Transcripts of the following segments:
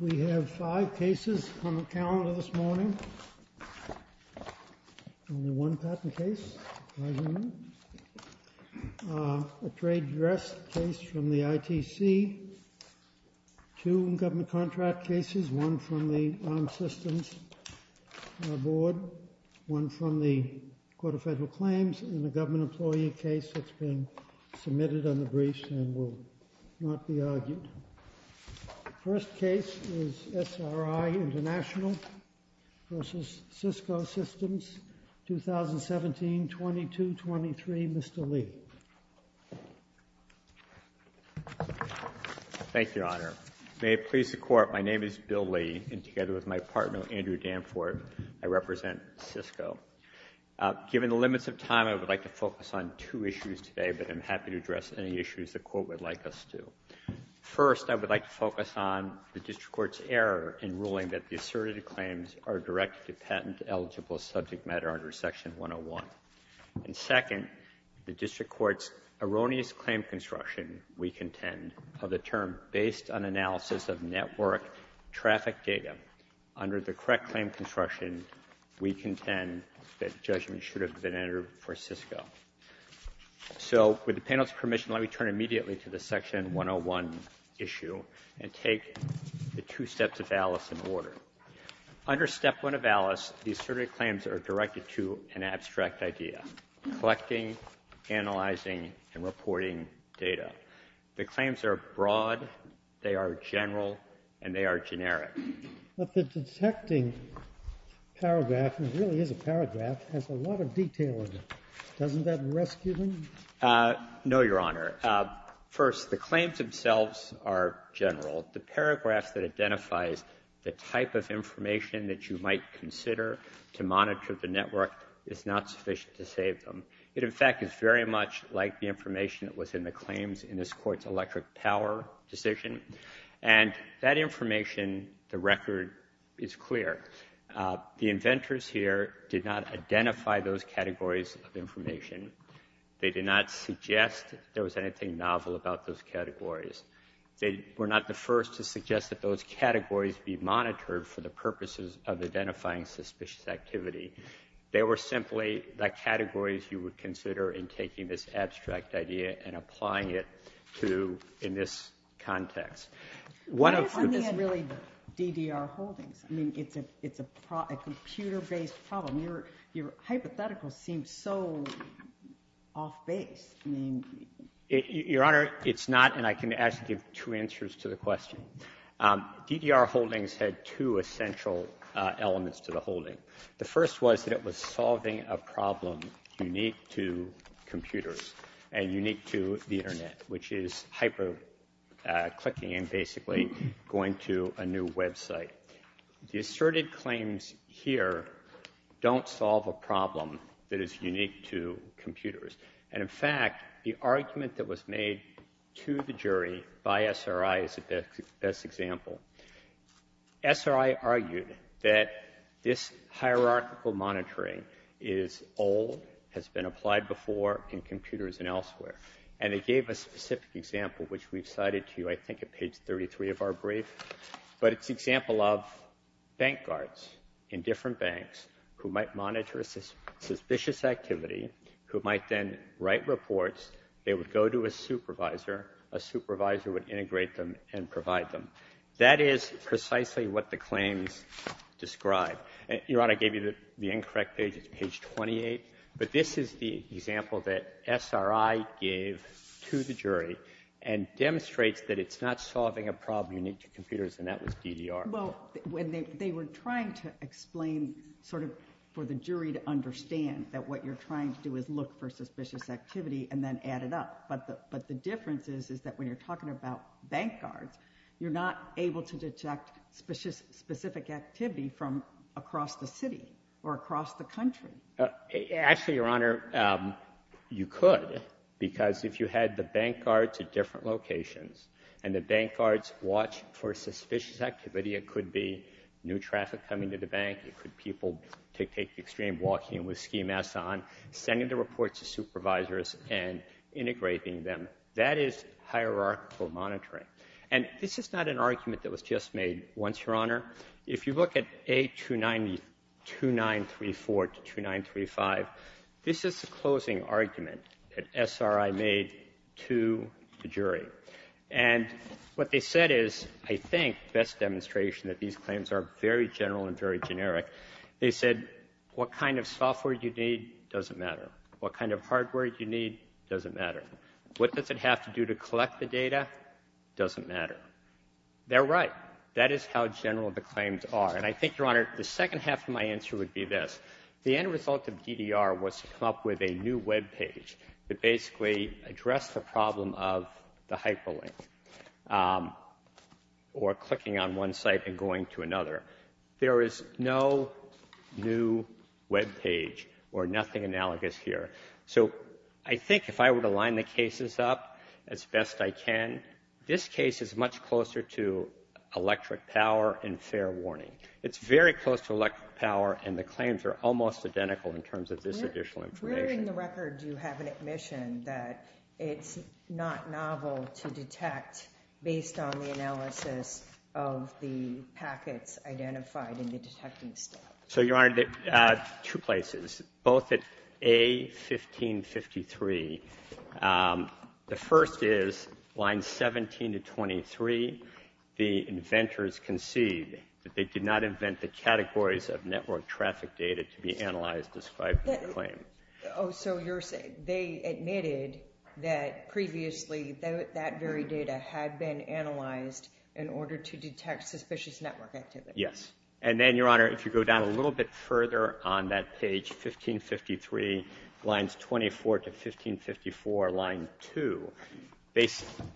We have five cases on the calendar this morning, only one patent case, a trade dress case from the ITC, two government contract cases, one from the Armed Systems Board, one from the Federal Claims, and a government employee case that's been submitted on the briefs and will not be argued. The first case is SRI International v. Cisco Systems, 2017-22-23, Mr. Lee. Thank you, Your Honor. May it please the Court, my name is Bill Lee, and together with my partner, Andrew Danfort, I represent Cisco. Given the limits of time, I would like to focus on two issues today, but I'm happy to address any issues the Court would like us to. First I would like to focus on the District Court's error in ruling that the asserted claims are directed to patent-eligible subject matter under Section 101. And second, the District Court's erroneous claim construction, we contend, of the term based on analysis of network traffic data under the correct claim construction, we contend that judgment should have been entered for Cisco. So with the panel's permission, let me turn immediately to the Section 101 issue and take the two steps of Alice in order. Under Step 1 of Alice, the asserted claims are directed to an abstract idea, collecting, analyzing, and reporting data. The claims are broad, they are general, and they are generic. But the detecting paragraph, which really is a paragraph, has a lot of detail in it. Doesn't that rescue them? No, Your Honor. First, the claims themselves are general. The paragraph that identifies the type of information that you might consider to monitor the network is not sufficient to save them. It, in fact, is very much like the information that was in the claims in this Court's electric power decision. And that information, the record is clear. The inventors here did not identify those categories of information. They did not suggest there was anything novel about those categories. They were not the first to suggest that those categories be monitored for the purposes of identifying suspicious activity. They were simply the categories you would consider in taking this abstract idea and applying it to, in this context. One of the... Why isn't this really DDR Holdings? I mean, it's a computer-based problem. Your hypothetical seems so off-base, I mean... Your Honor, it's not, and I can actually give two answers to the question. DDR Holdings had two essential elements to the holding. The first was that it was solving a problem unique to computers and unique to the Internet, which is hyper-clicking and basically going to a new website. The asserted claims here don't solve a problem that is unique to computers. And in fact, the argument that was made to the jury by SRI is the best example. SRI argued that this hierarchical monitoring is old, has been applied before in computers and elsewhere. And they gave a specific example, which we've cited to you, I think at page 33 of our brief. But it's an example of bank guards in different banks who might monitor a suspicious activity, who might then write reports, they would go to a supervisor, a supervisor would integrate them and provide them. That is precisely what the claims describe. Your Honor, I gave you the incorrect page, it's page 28. But this is the example that SRI gave to the jury and demonstrates that it's not solving a problem unique to computers, and that was DDR. Well, they were trying to explain sort of for the jury to understand that what you're trying to do is look for suspicious activity and then add it up. But the difference is, is that when you're talking about bank guards, you're not able to detect specific activity from across the city or across the country. Actually, Your Honor, you could, because if you had the bank guards at different locations and the bank guards watch for suspicious activity, it could be new traffic coming to the bank, it could be people take the extreme walking with ski masks on, sending the reports to the jury. That is hierarchical monitoring. And this is not an argument that was just made once, Your Honor. If you look at A2934 to 2935, this is the closing argument that SRI made to the jury. And what they said is, I think, best demonstration that these claims are very general and very generic, they said, what kind of software you need doesn't matter. What kind of hardware you need doesn't matter. What does it have to do to collect the data doesn't matter. They're right. That is how general the claims are. And I think, Your Honor, the second half of my answer would be this. The end result of DDR was to come up with a new webpage that basically addressed the problem of the hyperlink or clicking on one site and going to another. There is no new webpage or nothing analogous here. So I think if I were to line the cases up as best I can, this case is much closer to electric power and fair warning. It's very close to electric power and the claims are almost identical in terms of this additional information. Where in the record do you have an admission that it's not novel to detect based on the packets identified in the detecting step? So Your Honor, two places, both at A1553, the first is line 17 to 23, the inventors concede that they did not invent the categories of network traffic data to be analyzed described in the claim. Oh, so you're saying they admitted that previously that very data had been analyzed in order to detect suspicious network activity? Yes. And then, Your Honor, if you go down a little bit further on that page, 1553 lines 24 to 1554 line 2,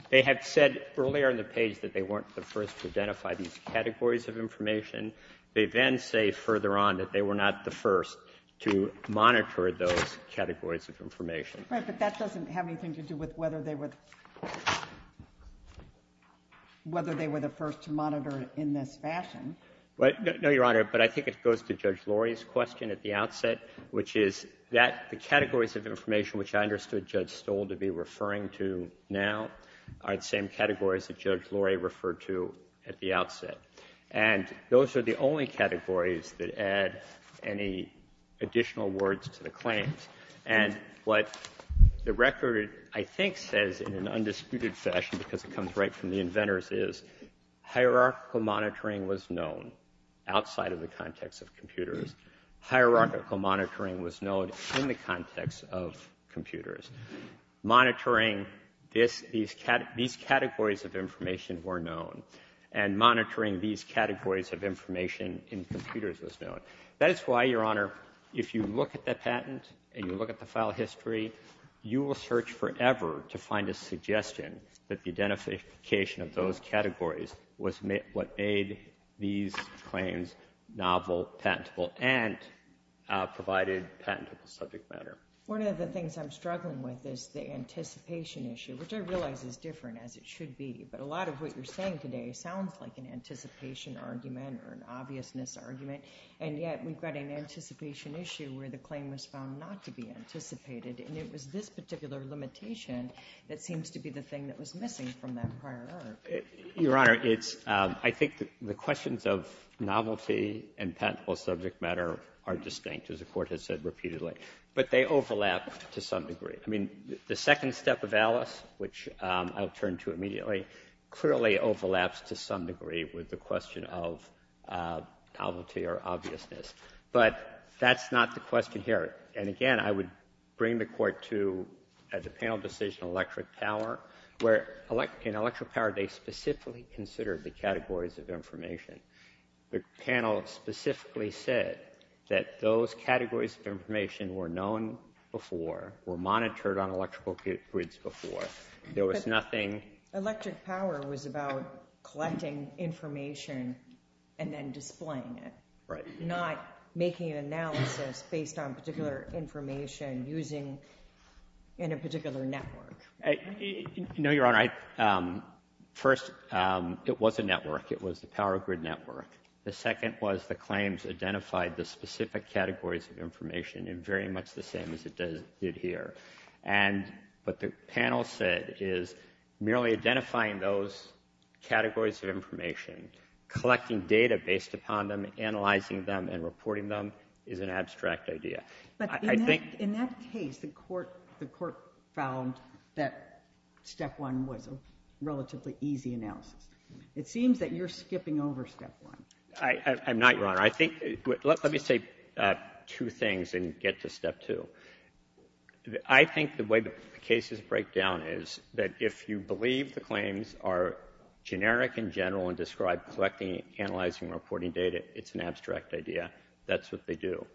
they have said earlier on the page that they weren't the first to identify these categories of information. They then say further on that they were not the first to monitor those categories of information. Right, but that doesn't have anything to do with whether they were the first to monitor in this fashion. No, Your Honor, but I think it goes to Judge Lurie's question at the outset, which is that the categories of information which I understood Judge Stoll to be referring to now are the same categories that Judge Lurie referred to at the outset. And those are the only categories that add any additional words to the claims. And what the record, I think, says in an undisputed fashion, because it comes right from the inventors, is hierarchical monitoring was known outside of the context of computers. Hierarchical monitoring was known in the context of computers. Monitoring these categories of information were known. And monitoring these categories of information in computers was known. That is why, Your Honor, if you look at that patent, and you look at the file history, you will search forever to find a suggestion that the identification of those categories was what made these claims novel, patentable, and provided patentable subject matter. One of the things I'm struggling with is the anticipation issue, which I realize is different as it should be. But a lot of what you're saying today sounds like an anticipation argument or an obviousness argument, and yet we've got an anticipation issue where the claim was found not to be anticipated, and it was this particular limitation that seems to be the thing that was missing from that prior argument. Your Honor, I think the questions of novelty and patentable subject matter are distinct, as the Court has said repeatedly. But they overlap to some degree. I mean, the second step of Alice, which I'll turn to immediately, clearly overlaps to some degree with the question of novelty or obviousness. But that's not the question here. And again, I would bring the Court to, at the panel decision, electric power, where in electric power, they specifically considered the categories of information. The panel specifically said that those categories of information were known before, were monitored on electrical grids before. There was nothing... Electric power was about collecting information and then displaying it, not making an analysis based on particular information using a particular network. No, Your Honor. First, it was a network. It was a power grid network. The second was the claims identified the specific categories of information in very much the same as it did here. And what the panel said is merely identifying those categories of information, collecting data based upon them, analyzing them and reporting them, is an abstract idea. But in that case, the Court found that step one was a relatively easy analysis. It seems that you're skipping over step one. I'm not, Your Honor. Let me say two things and get to step two. I think the way the cases break down is that if you believe the claims are generic and general and describe collecting, analyzing, reporting data, it's an abstract idea. That's what they do.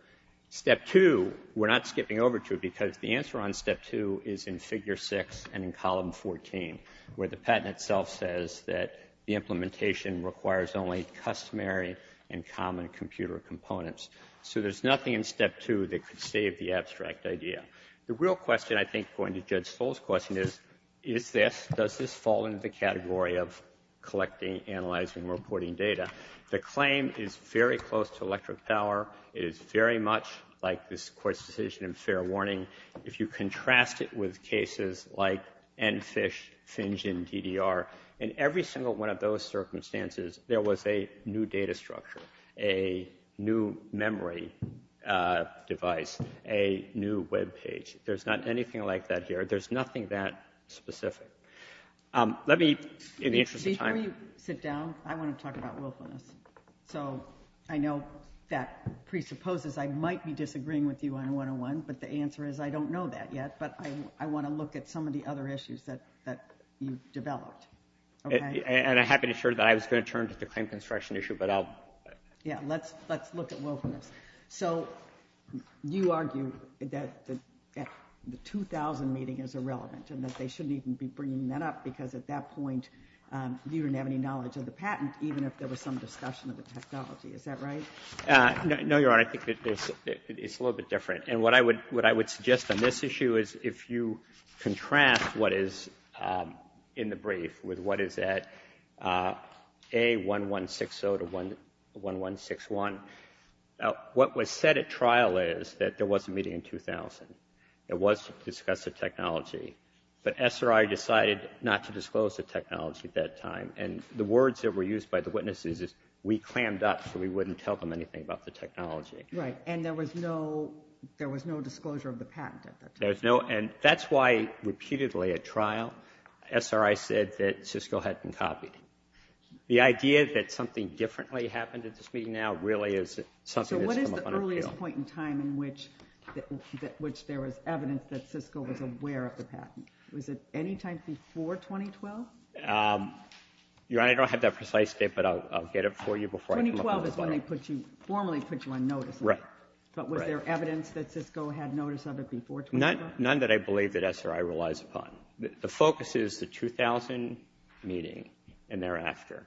Step two, we're not skipping over to because the answer on step two is in figure six and in column 14, where the patent itself says that the implementation requires only customary and common computer components. So there's nothing in step two that could save the abstract idea. The real question, I think, going to Judge Stoll's question is, is this, does this fall into the category of collecting, analyzing, reporting data? The claim is very close to electric power. It is very much like this Court's decision in fair warning. If you contrast it with cases like EnFISH, FinGen, DDR, in every single one of those cases, it's a memory device, a new web page. There's not anything like that here. There's nothing that specific. Let me, in the interest of time... Before you sit down, I want to talk about willfulness. So I know that presupposes I might be disagreeing with you on 101, but the answer is I don't know that yet, but I want to look at some of the other issues that you've developed. And I'm happy to share that I was going to turn to the claim construction issue, but I'll... Yeah, let's look at willfulness. So you argue that the 2000 meeting is irrelevant and that they shouldn't even be bringing that up because at that point, you didn't have any knowledge of the patent, even if there was some discussion of the technology. Is that right? No, you're right. I think it's a little bit different. And what I would suggest on this issue is if you contrast what is in the brief with what is at A1160 to 1161, what was said at trial is that there was a meeting in 2000. It was to discuss the technology, but SRI decided not to disclose the technology at that time. And the words that were used by the witnesses is, we clammed up so we wouldn't tell them anything about the technology. Right. And there was no disclosure of the patent at that time. There was no... And that's why repeatedly at trial, SRI said that Cisco had been copied. The idea that something differently happened at this meeting now really is something that has come up on our field. So what is the earliest point in time in which there was evidence that Cisco was aware of the patent? Was it any time before 2012? Your Honor, I don't have that precise date, but I'll get it for you before I come up on the floor. 2012 is when they formally put you on notice. Right. But was there evidence that Cisco had notice of it before 2012? None that I believe that SRI relies upon. The focus is the 2000 meeting and thereafter.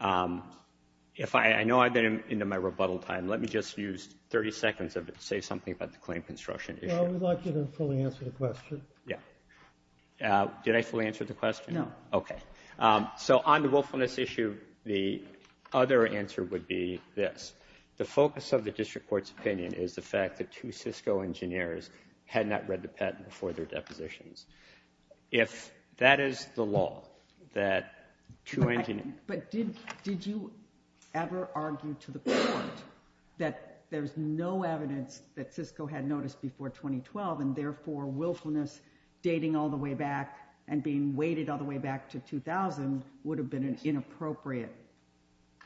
I know I've been into my rebuttal time. Let me just use 30 seconds of it to say something about the claim construction issue. I would like you to fully answer the question. Yeah. Did I fully answer the question? No. Okay. So on the willfulness issue, the other answer would be this. The focus of the district court's opinion is the fact that two Cisco engineers had not read the patent before their depositions. If that is the law, that two engineers... But did you ever argue to the court that there's no evidence that Cisco had noticed before 2012 and therefore willfulness dating all the way back and being weighted all the way back to 2000 would have been inappropriate?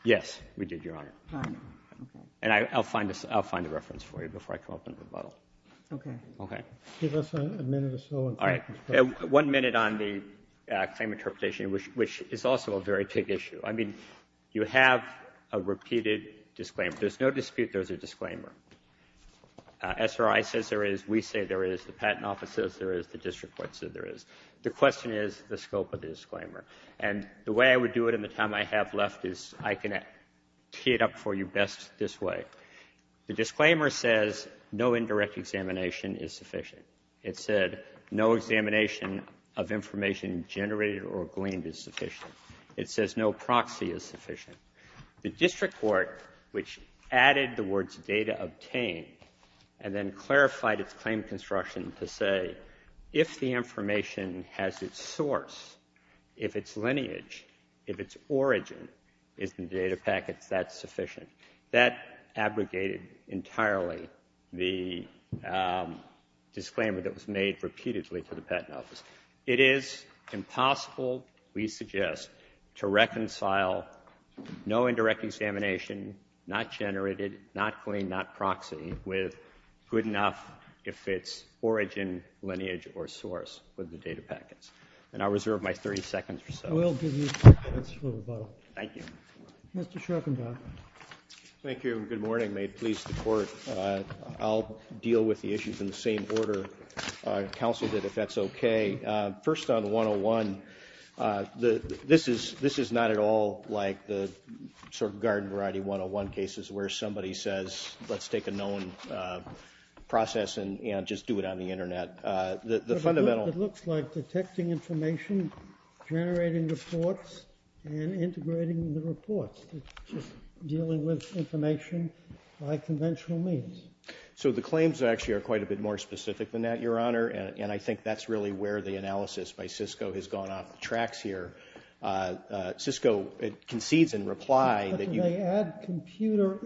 Yes, we did, Your Honor. Okay. And I'll find a reference for you before I come up with a rebuttal. Okay. Okay. Give us a minute or so. All right. One minute on the claim interpretation, which is also a very big issue. I mean, you have a repeated disclaimer. There's no dispute there's a disclaimer. SRI says there is. We say there is. The patent office says there is. The district court said there is. The question is the scope of the disclaimer. And the way I would do it in the time I have left is I can tee it up for you best this way. The disclaimer says no indirect examination is sufficient. It said no examination of information generated or gleaned is sufficient. It says no proxy is sufficient. The district court, which added the words data obtained and then clarified its claim reconstruction to say if the information has its source, if its lineage, if its origin is in data packets, that's sufficient. That abrogated entirely the disclaimer that was made repeatedly to the patent office. It is impossible, we suggest, to reconcile no indirect examination, not generated, not its origin, lineage, or source with the data packets. And I'll reserve my 30 seconds or so. We'll give you 30 seconds for rebuttal. Thank you. Mr. Schroepfendorf. Thank you. Good morning. May it please the court. I'll deal with the issues in the same order counsel did, if that's okay. First on 101, this is not at all like the sort of garden variety 101 cases where somebody says let's take a known process and just do it on the internet. It looks like detecting information, generating reports, and integrating the reports. It's just dealing with information by conventional means. So the claims actually are quite a bit more specific than that, Your Honor, and I think that's really where the analysis by Cisco has gone off the tracks here. Cisco concedes in reply that you... But do they add computer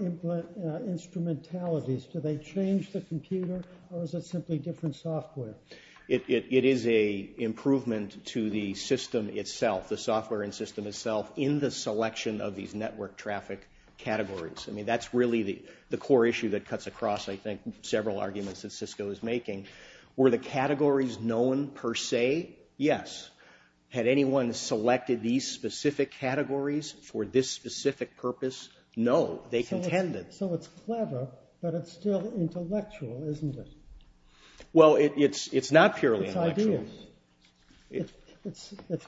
instrumentalities? Do they change the computer or is it simply different software? It is an improvement to the system itself, the software and system itself, in the selection of these network traffic categories. I mean that's really the core issue that cuts across, I think, several arguments that Cisco is making. Were the categories known per se? Yes. Had anyone selected these specific categories for this specific purpose? No. They contended. So it's clever, but it's still intellectual, isn't it? Well, it's not purely intellectual. It's ideas. It's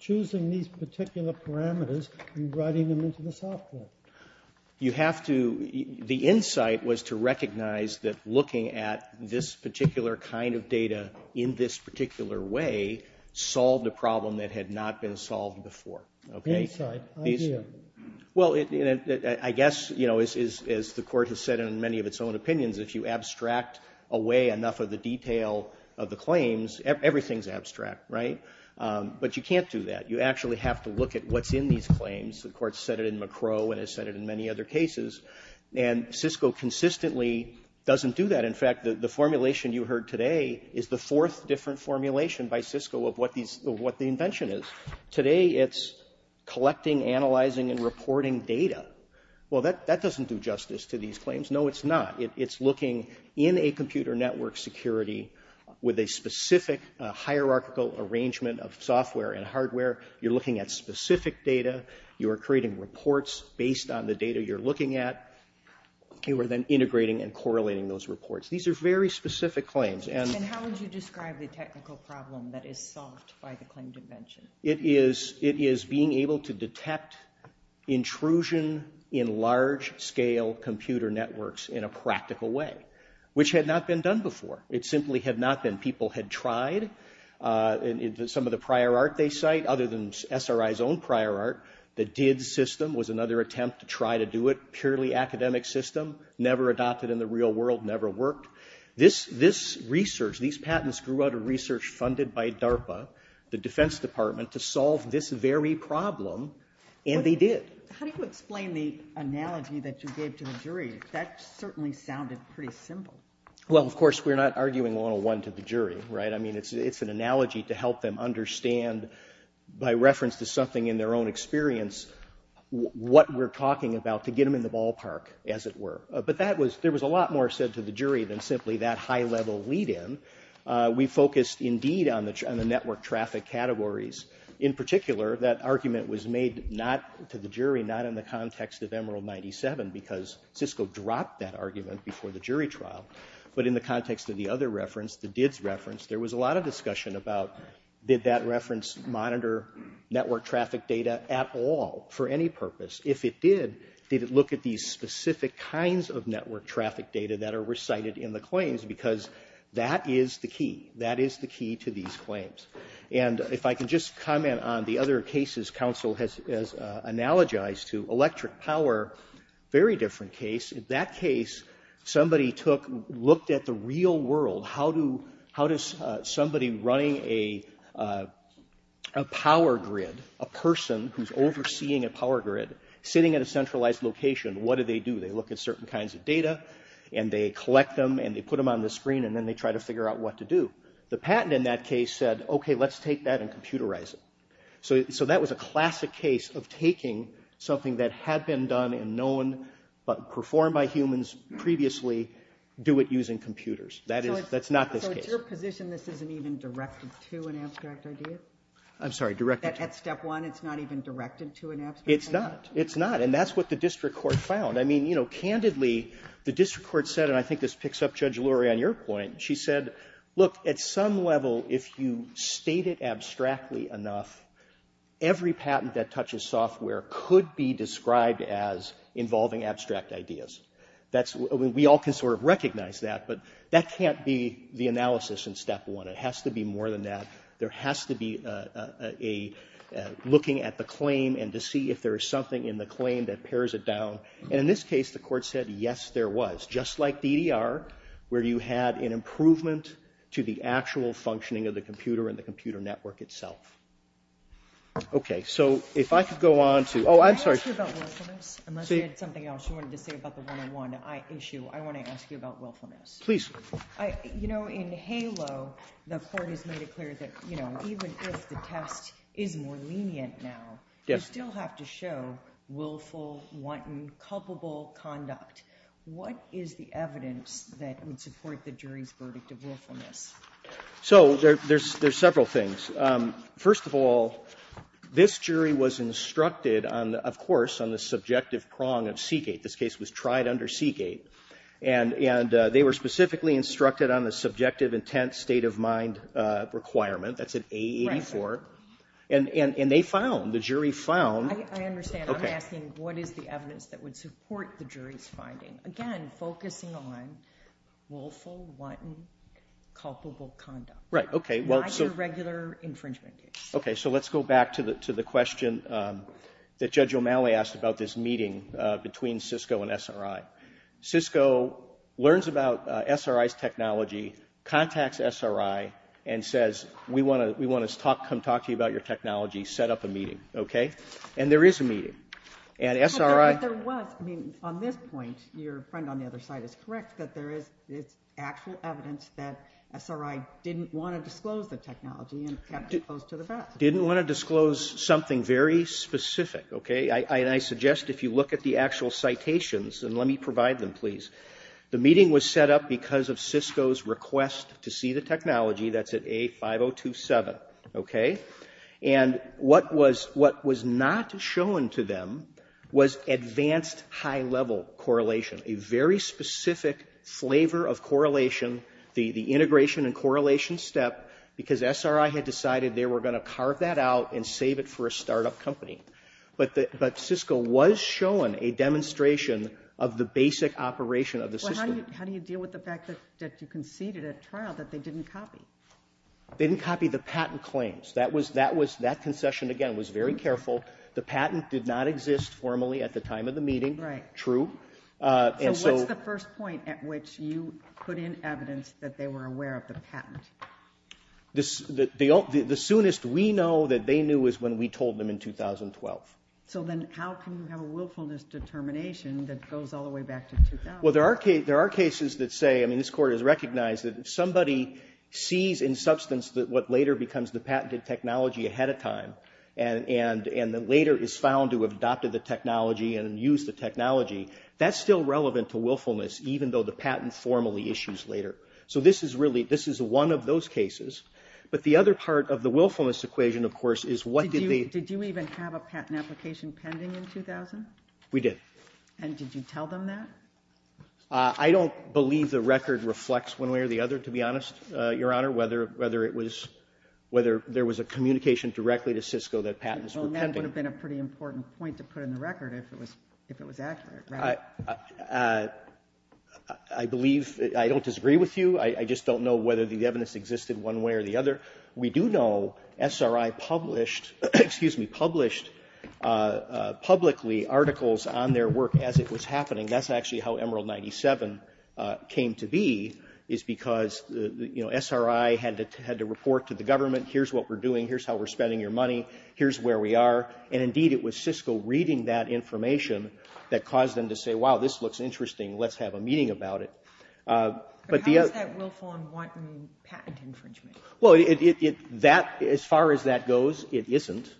choosing these particular parameters and writing them into the software. You have to... The insight was to recognize that looking at this particular kind of data in this particular way solved a problem that had not been solved before. Insight. Idea. Well, I guess, as the Court has said in many of its own opinions, if you abstract away enough of the detail of the claims, everything's abstract, right? But you can't do that. You actually have to look at what's in these claims. The Court's said it in McCrow and has said it in many other cases. And Cisco consistently doesn't do that. And in fact, the formulation you heard today is the fourth different formulation by Cisco of what the invention is. Today, it's collecting, analyzing, and reporting data. Well, that doesn't do justice to these claims. No, it's not. It's looking in a computer network security with a specific hierarchical arrangement of software and hardware. You're looking at specific data. You are creating reports based on the data you're looking at. You are then integrating and correlating those reports. These are very specific claims. And how would you describe the technical problem that is solved by the claimed invention? It is being able to detect intrusion in large-scale computer networks in a practical way, which had not been done before. It simply had not been. People had tried. Some of the prior art they cite, other than SRI's own prior art, the DID system was another attempt to try to do it. It was a prematurely academic system, never adopted in the real world, never worked. This research, these patents grew out of research funded by DARPA, the Defense Department, to solve this very problem, and they did. How do you explain the analogy that you gave to the jury? That certainly sounded pretty simple. Well, of course, we're not arguing 101 to the jury, right? I mean, it's an analogy to help them understand, by reference to something in their own experience, what we're talking about, to get them in the ballpark, as it were. But there was a lot more said to the jury than simply that high-level lead-in. We focused, indeed, on the network traffic categories. In particular, that argument was made to the jury not in the context of Emerald 97, because Cisco dropped that argument before the jury trial. But in the context of the other reference, the DID's reference, there was a lot of discussion about, did that reference monitor network traffic data at all, for any purpose? If it did, did it look at these specific kinds of network traffic data that are recited in the claims, because that is the key. That is the key to these claims. And if I can just comment on the other cases counsel has analogized to, electric power, very different case. In that case, somebody looked at the real world. How does somebody running a power grid, a person who's overseeing a power grid, sitting at a centralized location, what do they do? They look at certain kinds of data, and they collect them, and they put them on the screen, and then they try to figure out what to do. The patent, in that case, said, okay, let's take that and computerize it. So that was a classic case of taking something that had been done and known, but performed by humans previously, do it using computers. That's not this case. So it's your position this isn't even directed to an abstract idea? I'm sorry, directed? At step one, it's not even directed to an abstract idea? It's not. It's not. And that's what the district court found. I mean, you know, candidly, the district court said, and I think this picks up Judge Lori on your point, she said, look, at some level, if you state it abstractly enough, every patent that touches software could be described as involving abstract ideas. We all can sort of recognize that, but that can't be the analysis in step one. It has to be more than that. There has to be a looking at the claim and to see if there is something in the claim that pairs it down. And in this case, the court said, yes, there was. Just like DDR, where you had an improvement to the actual functioning of the computer and the computer network itself. Okay, so if I could go on to... Oh, I'm sorry. Can I ask you about willfulness? Unless you had something else you wanted to say about the one-on-one issue, I want to ask you about willfulness. Please. You know, in HALO, the court has made it clear that even if the test is more lenient now, you still have to show willful, wanton, culpable conduct. What is the evidence that would support the jury's verdict of willfulness? So, there's several things. First of all, this jury was instructed, of course, on the subjective prong of Seagate. This case was tried under Seagate. And they were specifically instructed on the subjective intent state of mind requirement. That's an A84. And they found, the jury found... I understand. I'm asking, what is the evidence that would support the jury's finding? Again, focusing on willful, wanton, culpable conduct. Right, okay. Not your regular infringement case. Okay, so let's go back to the question that Judge O'Malley asked about this meeting between Cisco and SRI. Cisco learns about SRI's technology, contacts SRI, and says, we want to come talk to you about your technology, set up a meeting. Okay? And there is a meeting. And SRI... But there was, I mean, on this point, your friend on the other side is correct, that there is actual evidence that SRI didn't want to disclose the technology and kept it close to the facts. Didn't want to disclose something very specific, okay? And I suggest if you look at the actual citations, and let me provide them, please. The meeting was set up because of Cisco's request to see the technology, that's at A5027, okay? And what was not shown to them was advanced high-level correlation, a very specific flavor of correlation, the integration and correlation step, because SRI had decided they were going to carve that out and save it for a startup company. But Cisco was shown a demonstration of the basic operation of the system. Well, how do you deal with the fact that you conceded at trial that they didn't copy? They didn't copy the patent claims. That concession, again, was very careful. The patent did not exist formally at the time of the meeting. Right. True. So what's the first point at which you put in evidence that they were aware of the patent? The soonest we know that they knew is when we told them in 2012. So then how can you have a willfulness determination that goes all the way back to 2012? Well, there are cases that say, I mean, this Court has recognized that if somebody sees in substance what later becomes the patented technology ahead of time and then later is found to have adopted the technology and used the technology, that's still relevant to willfulness even though the patent formally issues later. So this is one of those cases. But the other part of the willfulness equation, of course, is what did they... Did you even have a patent application pending in 2000? We did. And did you tell them that? I don't believe the record reflects one way or the other, to be honest, Your Honor, whether it was... whether there was a communication directly to Cisco that patents were pending. Well, that would have been a pretty important point to put in the record if it was accurate, right? I believe... I don't disagree with you. I just don't know whether the evidence existed one way or the other. We do know SRI published, excuse me, published publicly articles on their work as it was happening. That's actually how Emerald 97 came to be is because SRI had to report to the government, here's what we're doing, here's how we're spending your money, here's where we are. And indeed, it was Cisco reading that information that caused them to say, wow, this looks interesting, let's have a meeting about it. But how is that willful and wanton patent infringement? Well, as far as that goes, it isn't.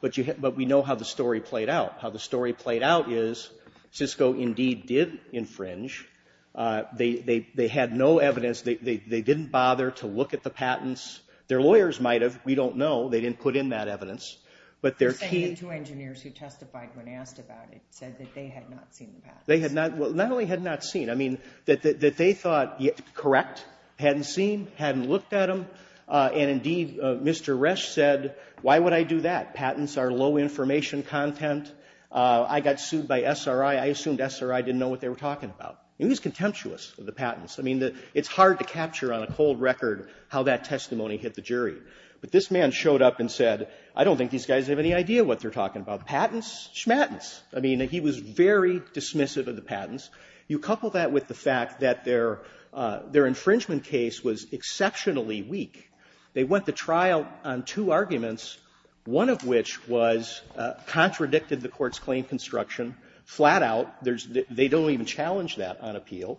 But we know how the story played out. How the story played out is Cisco indeed did infringe. They had no evidence. They didn't bother to look at the patents. Their lawyers might have. We don't know. They didn't put in that evidence. But their key... You're saying the two engineers who testified when asked about it said that they had not seen the patents? They had not... Well, not only had not seen, I mean, that they thought correct, hadn't seen, hadn't looked at them. And indeed, Mr. Resch said, why would I do that? Patents are low information content. I got sued by SRI. I assumed SRI didn't know what they were talking about. He was contemptuous of the patents. I mean, it's hard to capture on a cold record how that testimony hit the jury. But this man showed up and said, I don't think these guys have any idea what they're talking about. Patents? Schmattens. I mean, he was very dismissive of the patents. You couple that with the fact that their infringement case was exceptionally weak. They went to trial on two arguments, one of which was contradicted the court's claim construction flat out. They don't even challenge that on appeal.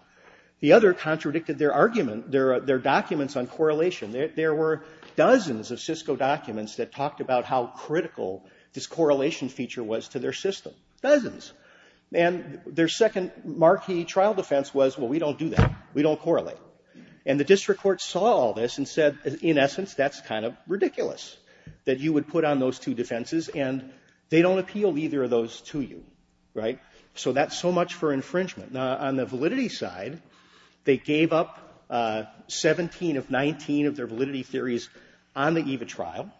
The other contradicted their argument, their documents on correlation. There were dozens of Cisco documents that talked about how critical this correlation feature was to their system. Dozens. And their second marquee trial defense was, well, we don't do that. We don't correlate. And the district court saw all this and said, in essence, that's kind of ridiculous that you would put on those two defenses and they don't appeal either of those to you. Right? So that's so much for infringement. Now, on the validity side, they gave up 17 of 19 of their validity theories on the EVA trial.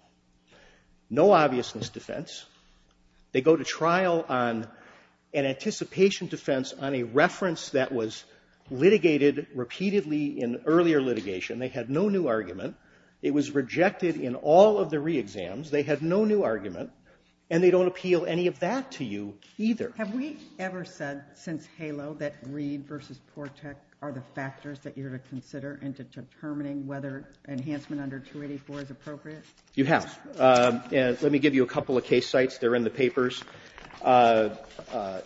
No obviousness defense. They go to trial on an anticipation defense on a reference that was litigated repeatedly in earlier litigation. They had no new argument. It was rejected in all of the re-exams. They had no new argument. And they don't appeal any of that to you either. Have we ever said since HALO that Greed versus Portec are the factors that you're to consider in determining whether enhancement under 284 is appropriate? You have. Let me give you a couple of case sites. They're in the papers.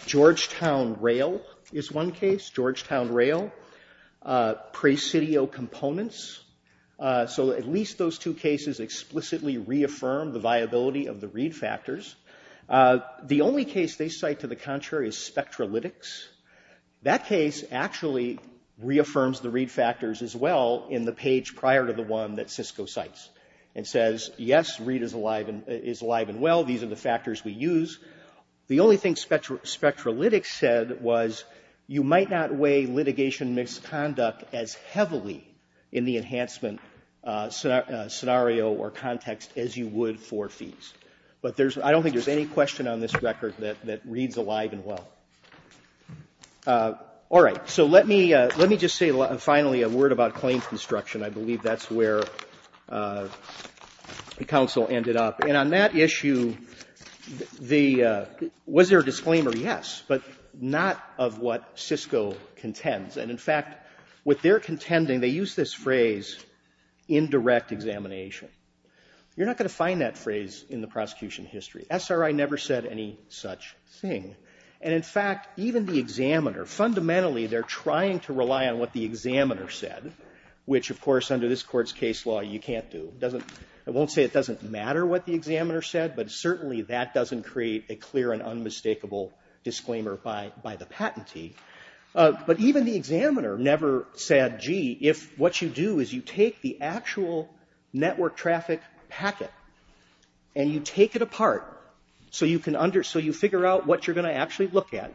Georgetown Rail is one case. Georgetown Rail. Presidio Components. So at least those two cases explicitly reaffirm the viability of the Reed factors. The only case they cite to the contrary is Spectralytics. That case actually reaffirms the Reed factors as well in the page prior to the one that Cisco cites. It says, yes, Reed is alive and well. These are the factors we use. The only thing Spectralytics said was you might not weigh litigation misconduct as heavily in the enhancement scenario or context as you would for fees. But I don't think there's any question on this record that reads alive and well. All right. So let me just say finally a word about claim construction. I believe that's where the counsel ended up. And on that issue, was there a disclaimer? Yes, but not of what Cisco contends. And in fact, what they're contending, they use this phrase indirect examination. You're not going to find that phrase in the prosecution history. SRI never said any such thing. And in fact, even the examiner, fundamentally they're trying to rely on what the examiner said, which of course under this court's case law you can't do. I won't say it doesn't matter what the examiner said, but certainly that doesn't create a clear and unmistakable disclaimer by the patentee. But even the examiner never said, gee, if what you do is you take the actual network traffic packet and you take it apart so you figure out what you're going to actually look at.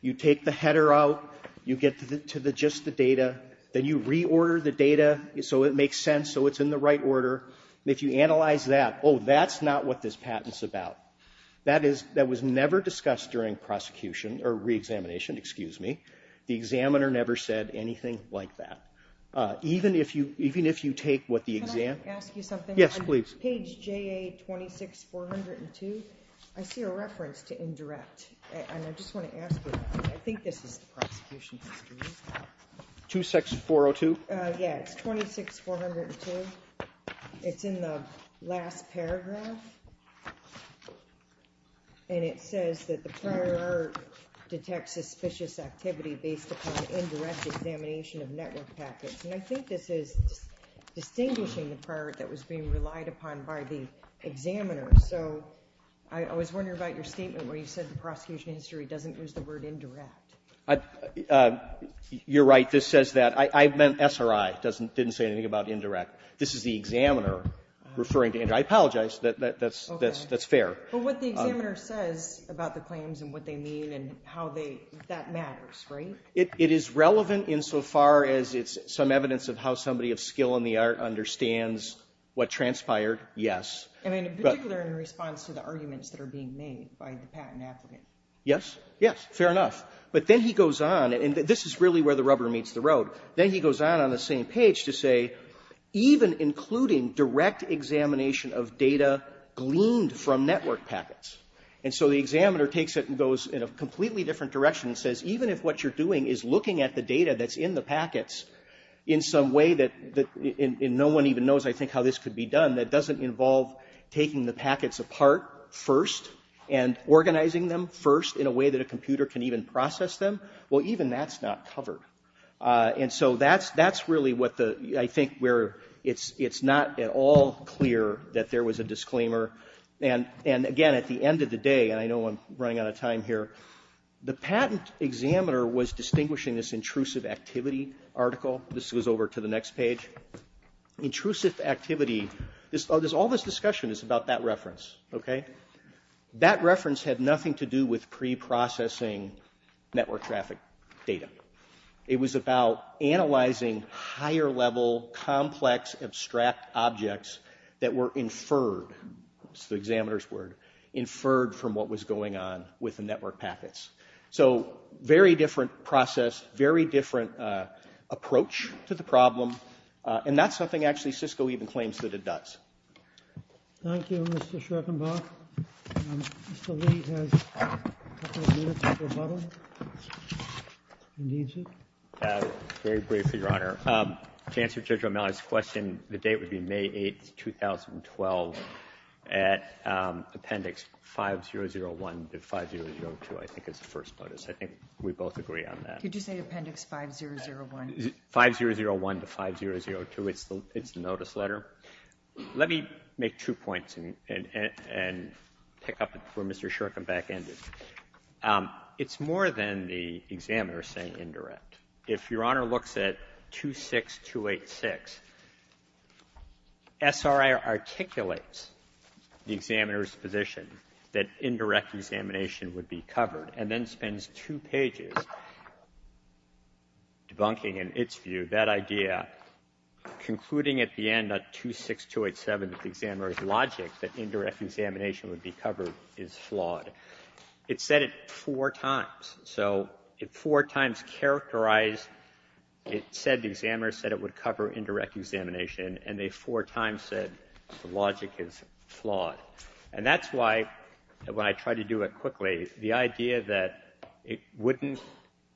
You take the header out, you get to just the data, then you reorder the data so it makes sense, so it's in the right order. If you analyze that, that's not what this patent's about. That was never discussed during re-examination. The examiner never said anything like that. Even if you take what the examiner... Can I ask you something? On page JA26402, I see a reference to indirect. I just want to ask you, I think this is the prosecution history. 26402? Yeah, it's 26402. It's in the last paragraph. And it says that the prior detects suspicious activity based upon indirect examination of network packets. And I think this is distinguishing the prior that was being relied upon by the examiner. So, I was wondering about your statement where you said the prosecution history doesn't use the word indirect. You're right. I meant SRI. It didn't say anything about indirect. This is the examiner referring to indirect. I apologize. That's fair. But what the examiner says about the claims and what they mean and how that matters, right? It is relevant insofar as it's some evidence of how somebody of skill in the art understands what transpired, yes. Particularly in response to the arguments that are being made by the patent applicant. Yes, fair enough. But then he goes on. And this is really where the rubber meets the road. Then he goes on on the same page to say even including direct examination of data gleaned from network packets. And so the examiner takes it and goes in a completely different direction and says even if what you're doing is looking at the data that's in the packets in some way that no one even knows I think how this could be done, that doesn't involve taking the packets apart first and organizing them first in a way that a computer can even process them, well even that's not covered. And so that's really what I think where it's not at all clear that there was a disclaimer and again at the end of the day and I know I'm running out of time here the patent examiner was distinguishing this intrusive activity article. This goes over to the next page. Intrusive activity. All this discussion is about that reference, okay? That reference had nothing to do with pre-processing network traffic data. It was about analyzing higher level complex abstract objects that were inferred, that's the examiner's word, inferred from what was going on with the network packets. So very different process very different approach to the problem and that's something actually Cisco even claims that it does. Thank you Mr. Schreckenbach. Mr. Lee has a couple of minutes to rebuttal if he needs it. Very briefly, Your Honor. To answer Judge O'Malley's question, the date would be May 8, 2012 at Appendix 5001 to 5002 I think is the first notice. I think we both agree on that. Could you say Appendix 5001? 5001 to 5002 It's the notice letter. Let me make two points and pick up where Mr. Schreckenbach ended. It's more than the examiner saying indirect. If Your Honor looks at 26286 SRI articulates the examiner's position that indirect examination would be covered and then spends two pages debunking in its view that idea concluding at the end of 26287 that the examiner's logic that indirect examination would be covered is flawed. It said it four times. It four times characterized it said the examiner said it would cover indirect examination and they four times said the logic is flawed. That's why when I try to do it quickly, the idea that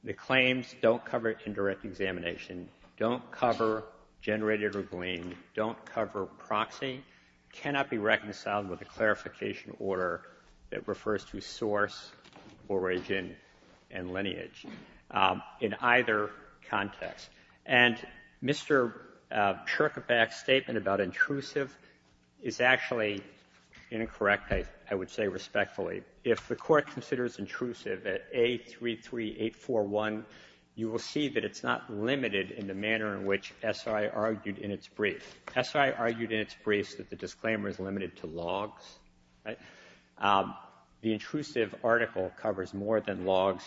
the claims don't cover indirect examination don't cover generated or gleaned, don't cover proxy cannot be reconciled with the clarification order that refers to source origin and lineage in either context and Mr. Schreckenbach's statement about intrusive is actually incorrect I would say respectfully. If the court considers intrusive at A33841 you will see that it's not limited in the manner in which SI argued in its brief that the disclaimer is limited to logs the intrusive article covers more than logs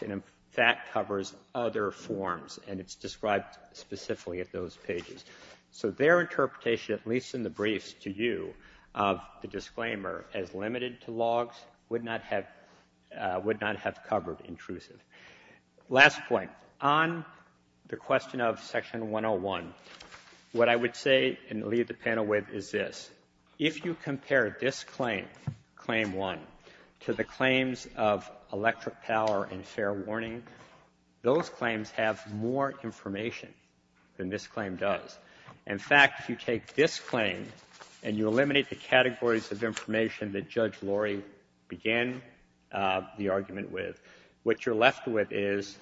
that covers other forms and it's described specifically at those pages. So their interpretation at least in the briefs to you of the disclaimer as limited to logs would not have covered intrusive. Last point, on the question of section 101 what I would say and leave the panel with is this if you compare this claim claim 1 to the claims of electric power and fair warning, those claims have more information than this claim does in fact if you take this claim and you eliminate the categories of begin the argument with, what you're left with is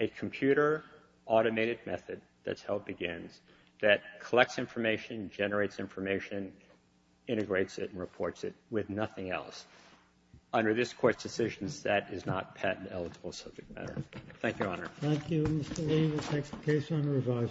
a computer automated method, that's how it begins that collects information generates information integrates it and reports it with nothing else. Under this court's decision that is not patent eligible subject matter. Thank you, Your Honor. Thank you, Mr. Lee. We'll take the case on revisal.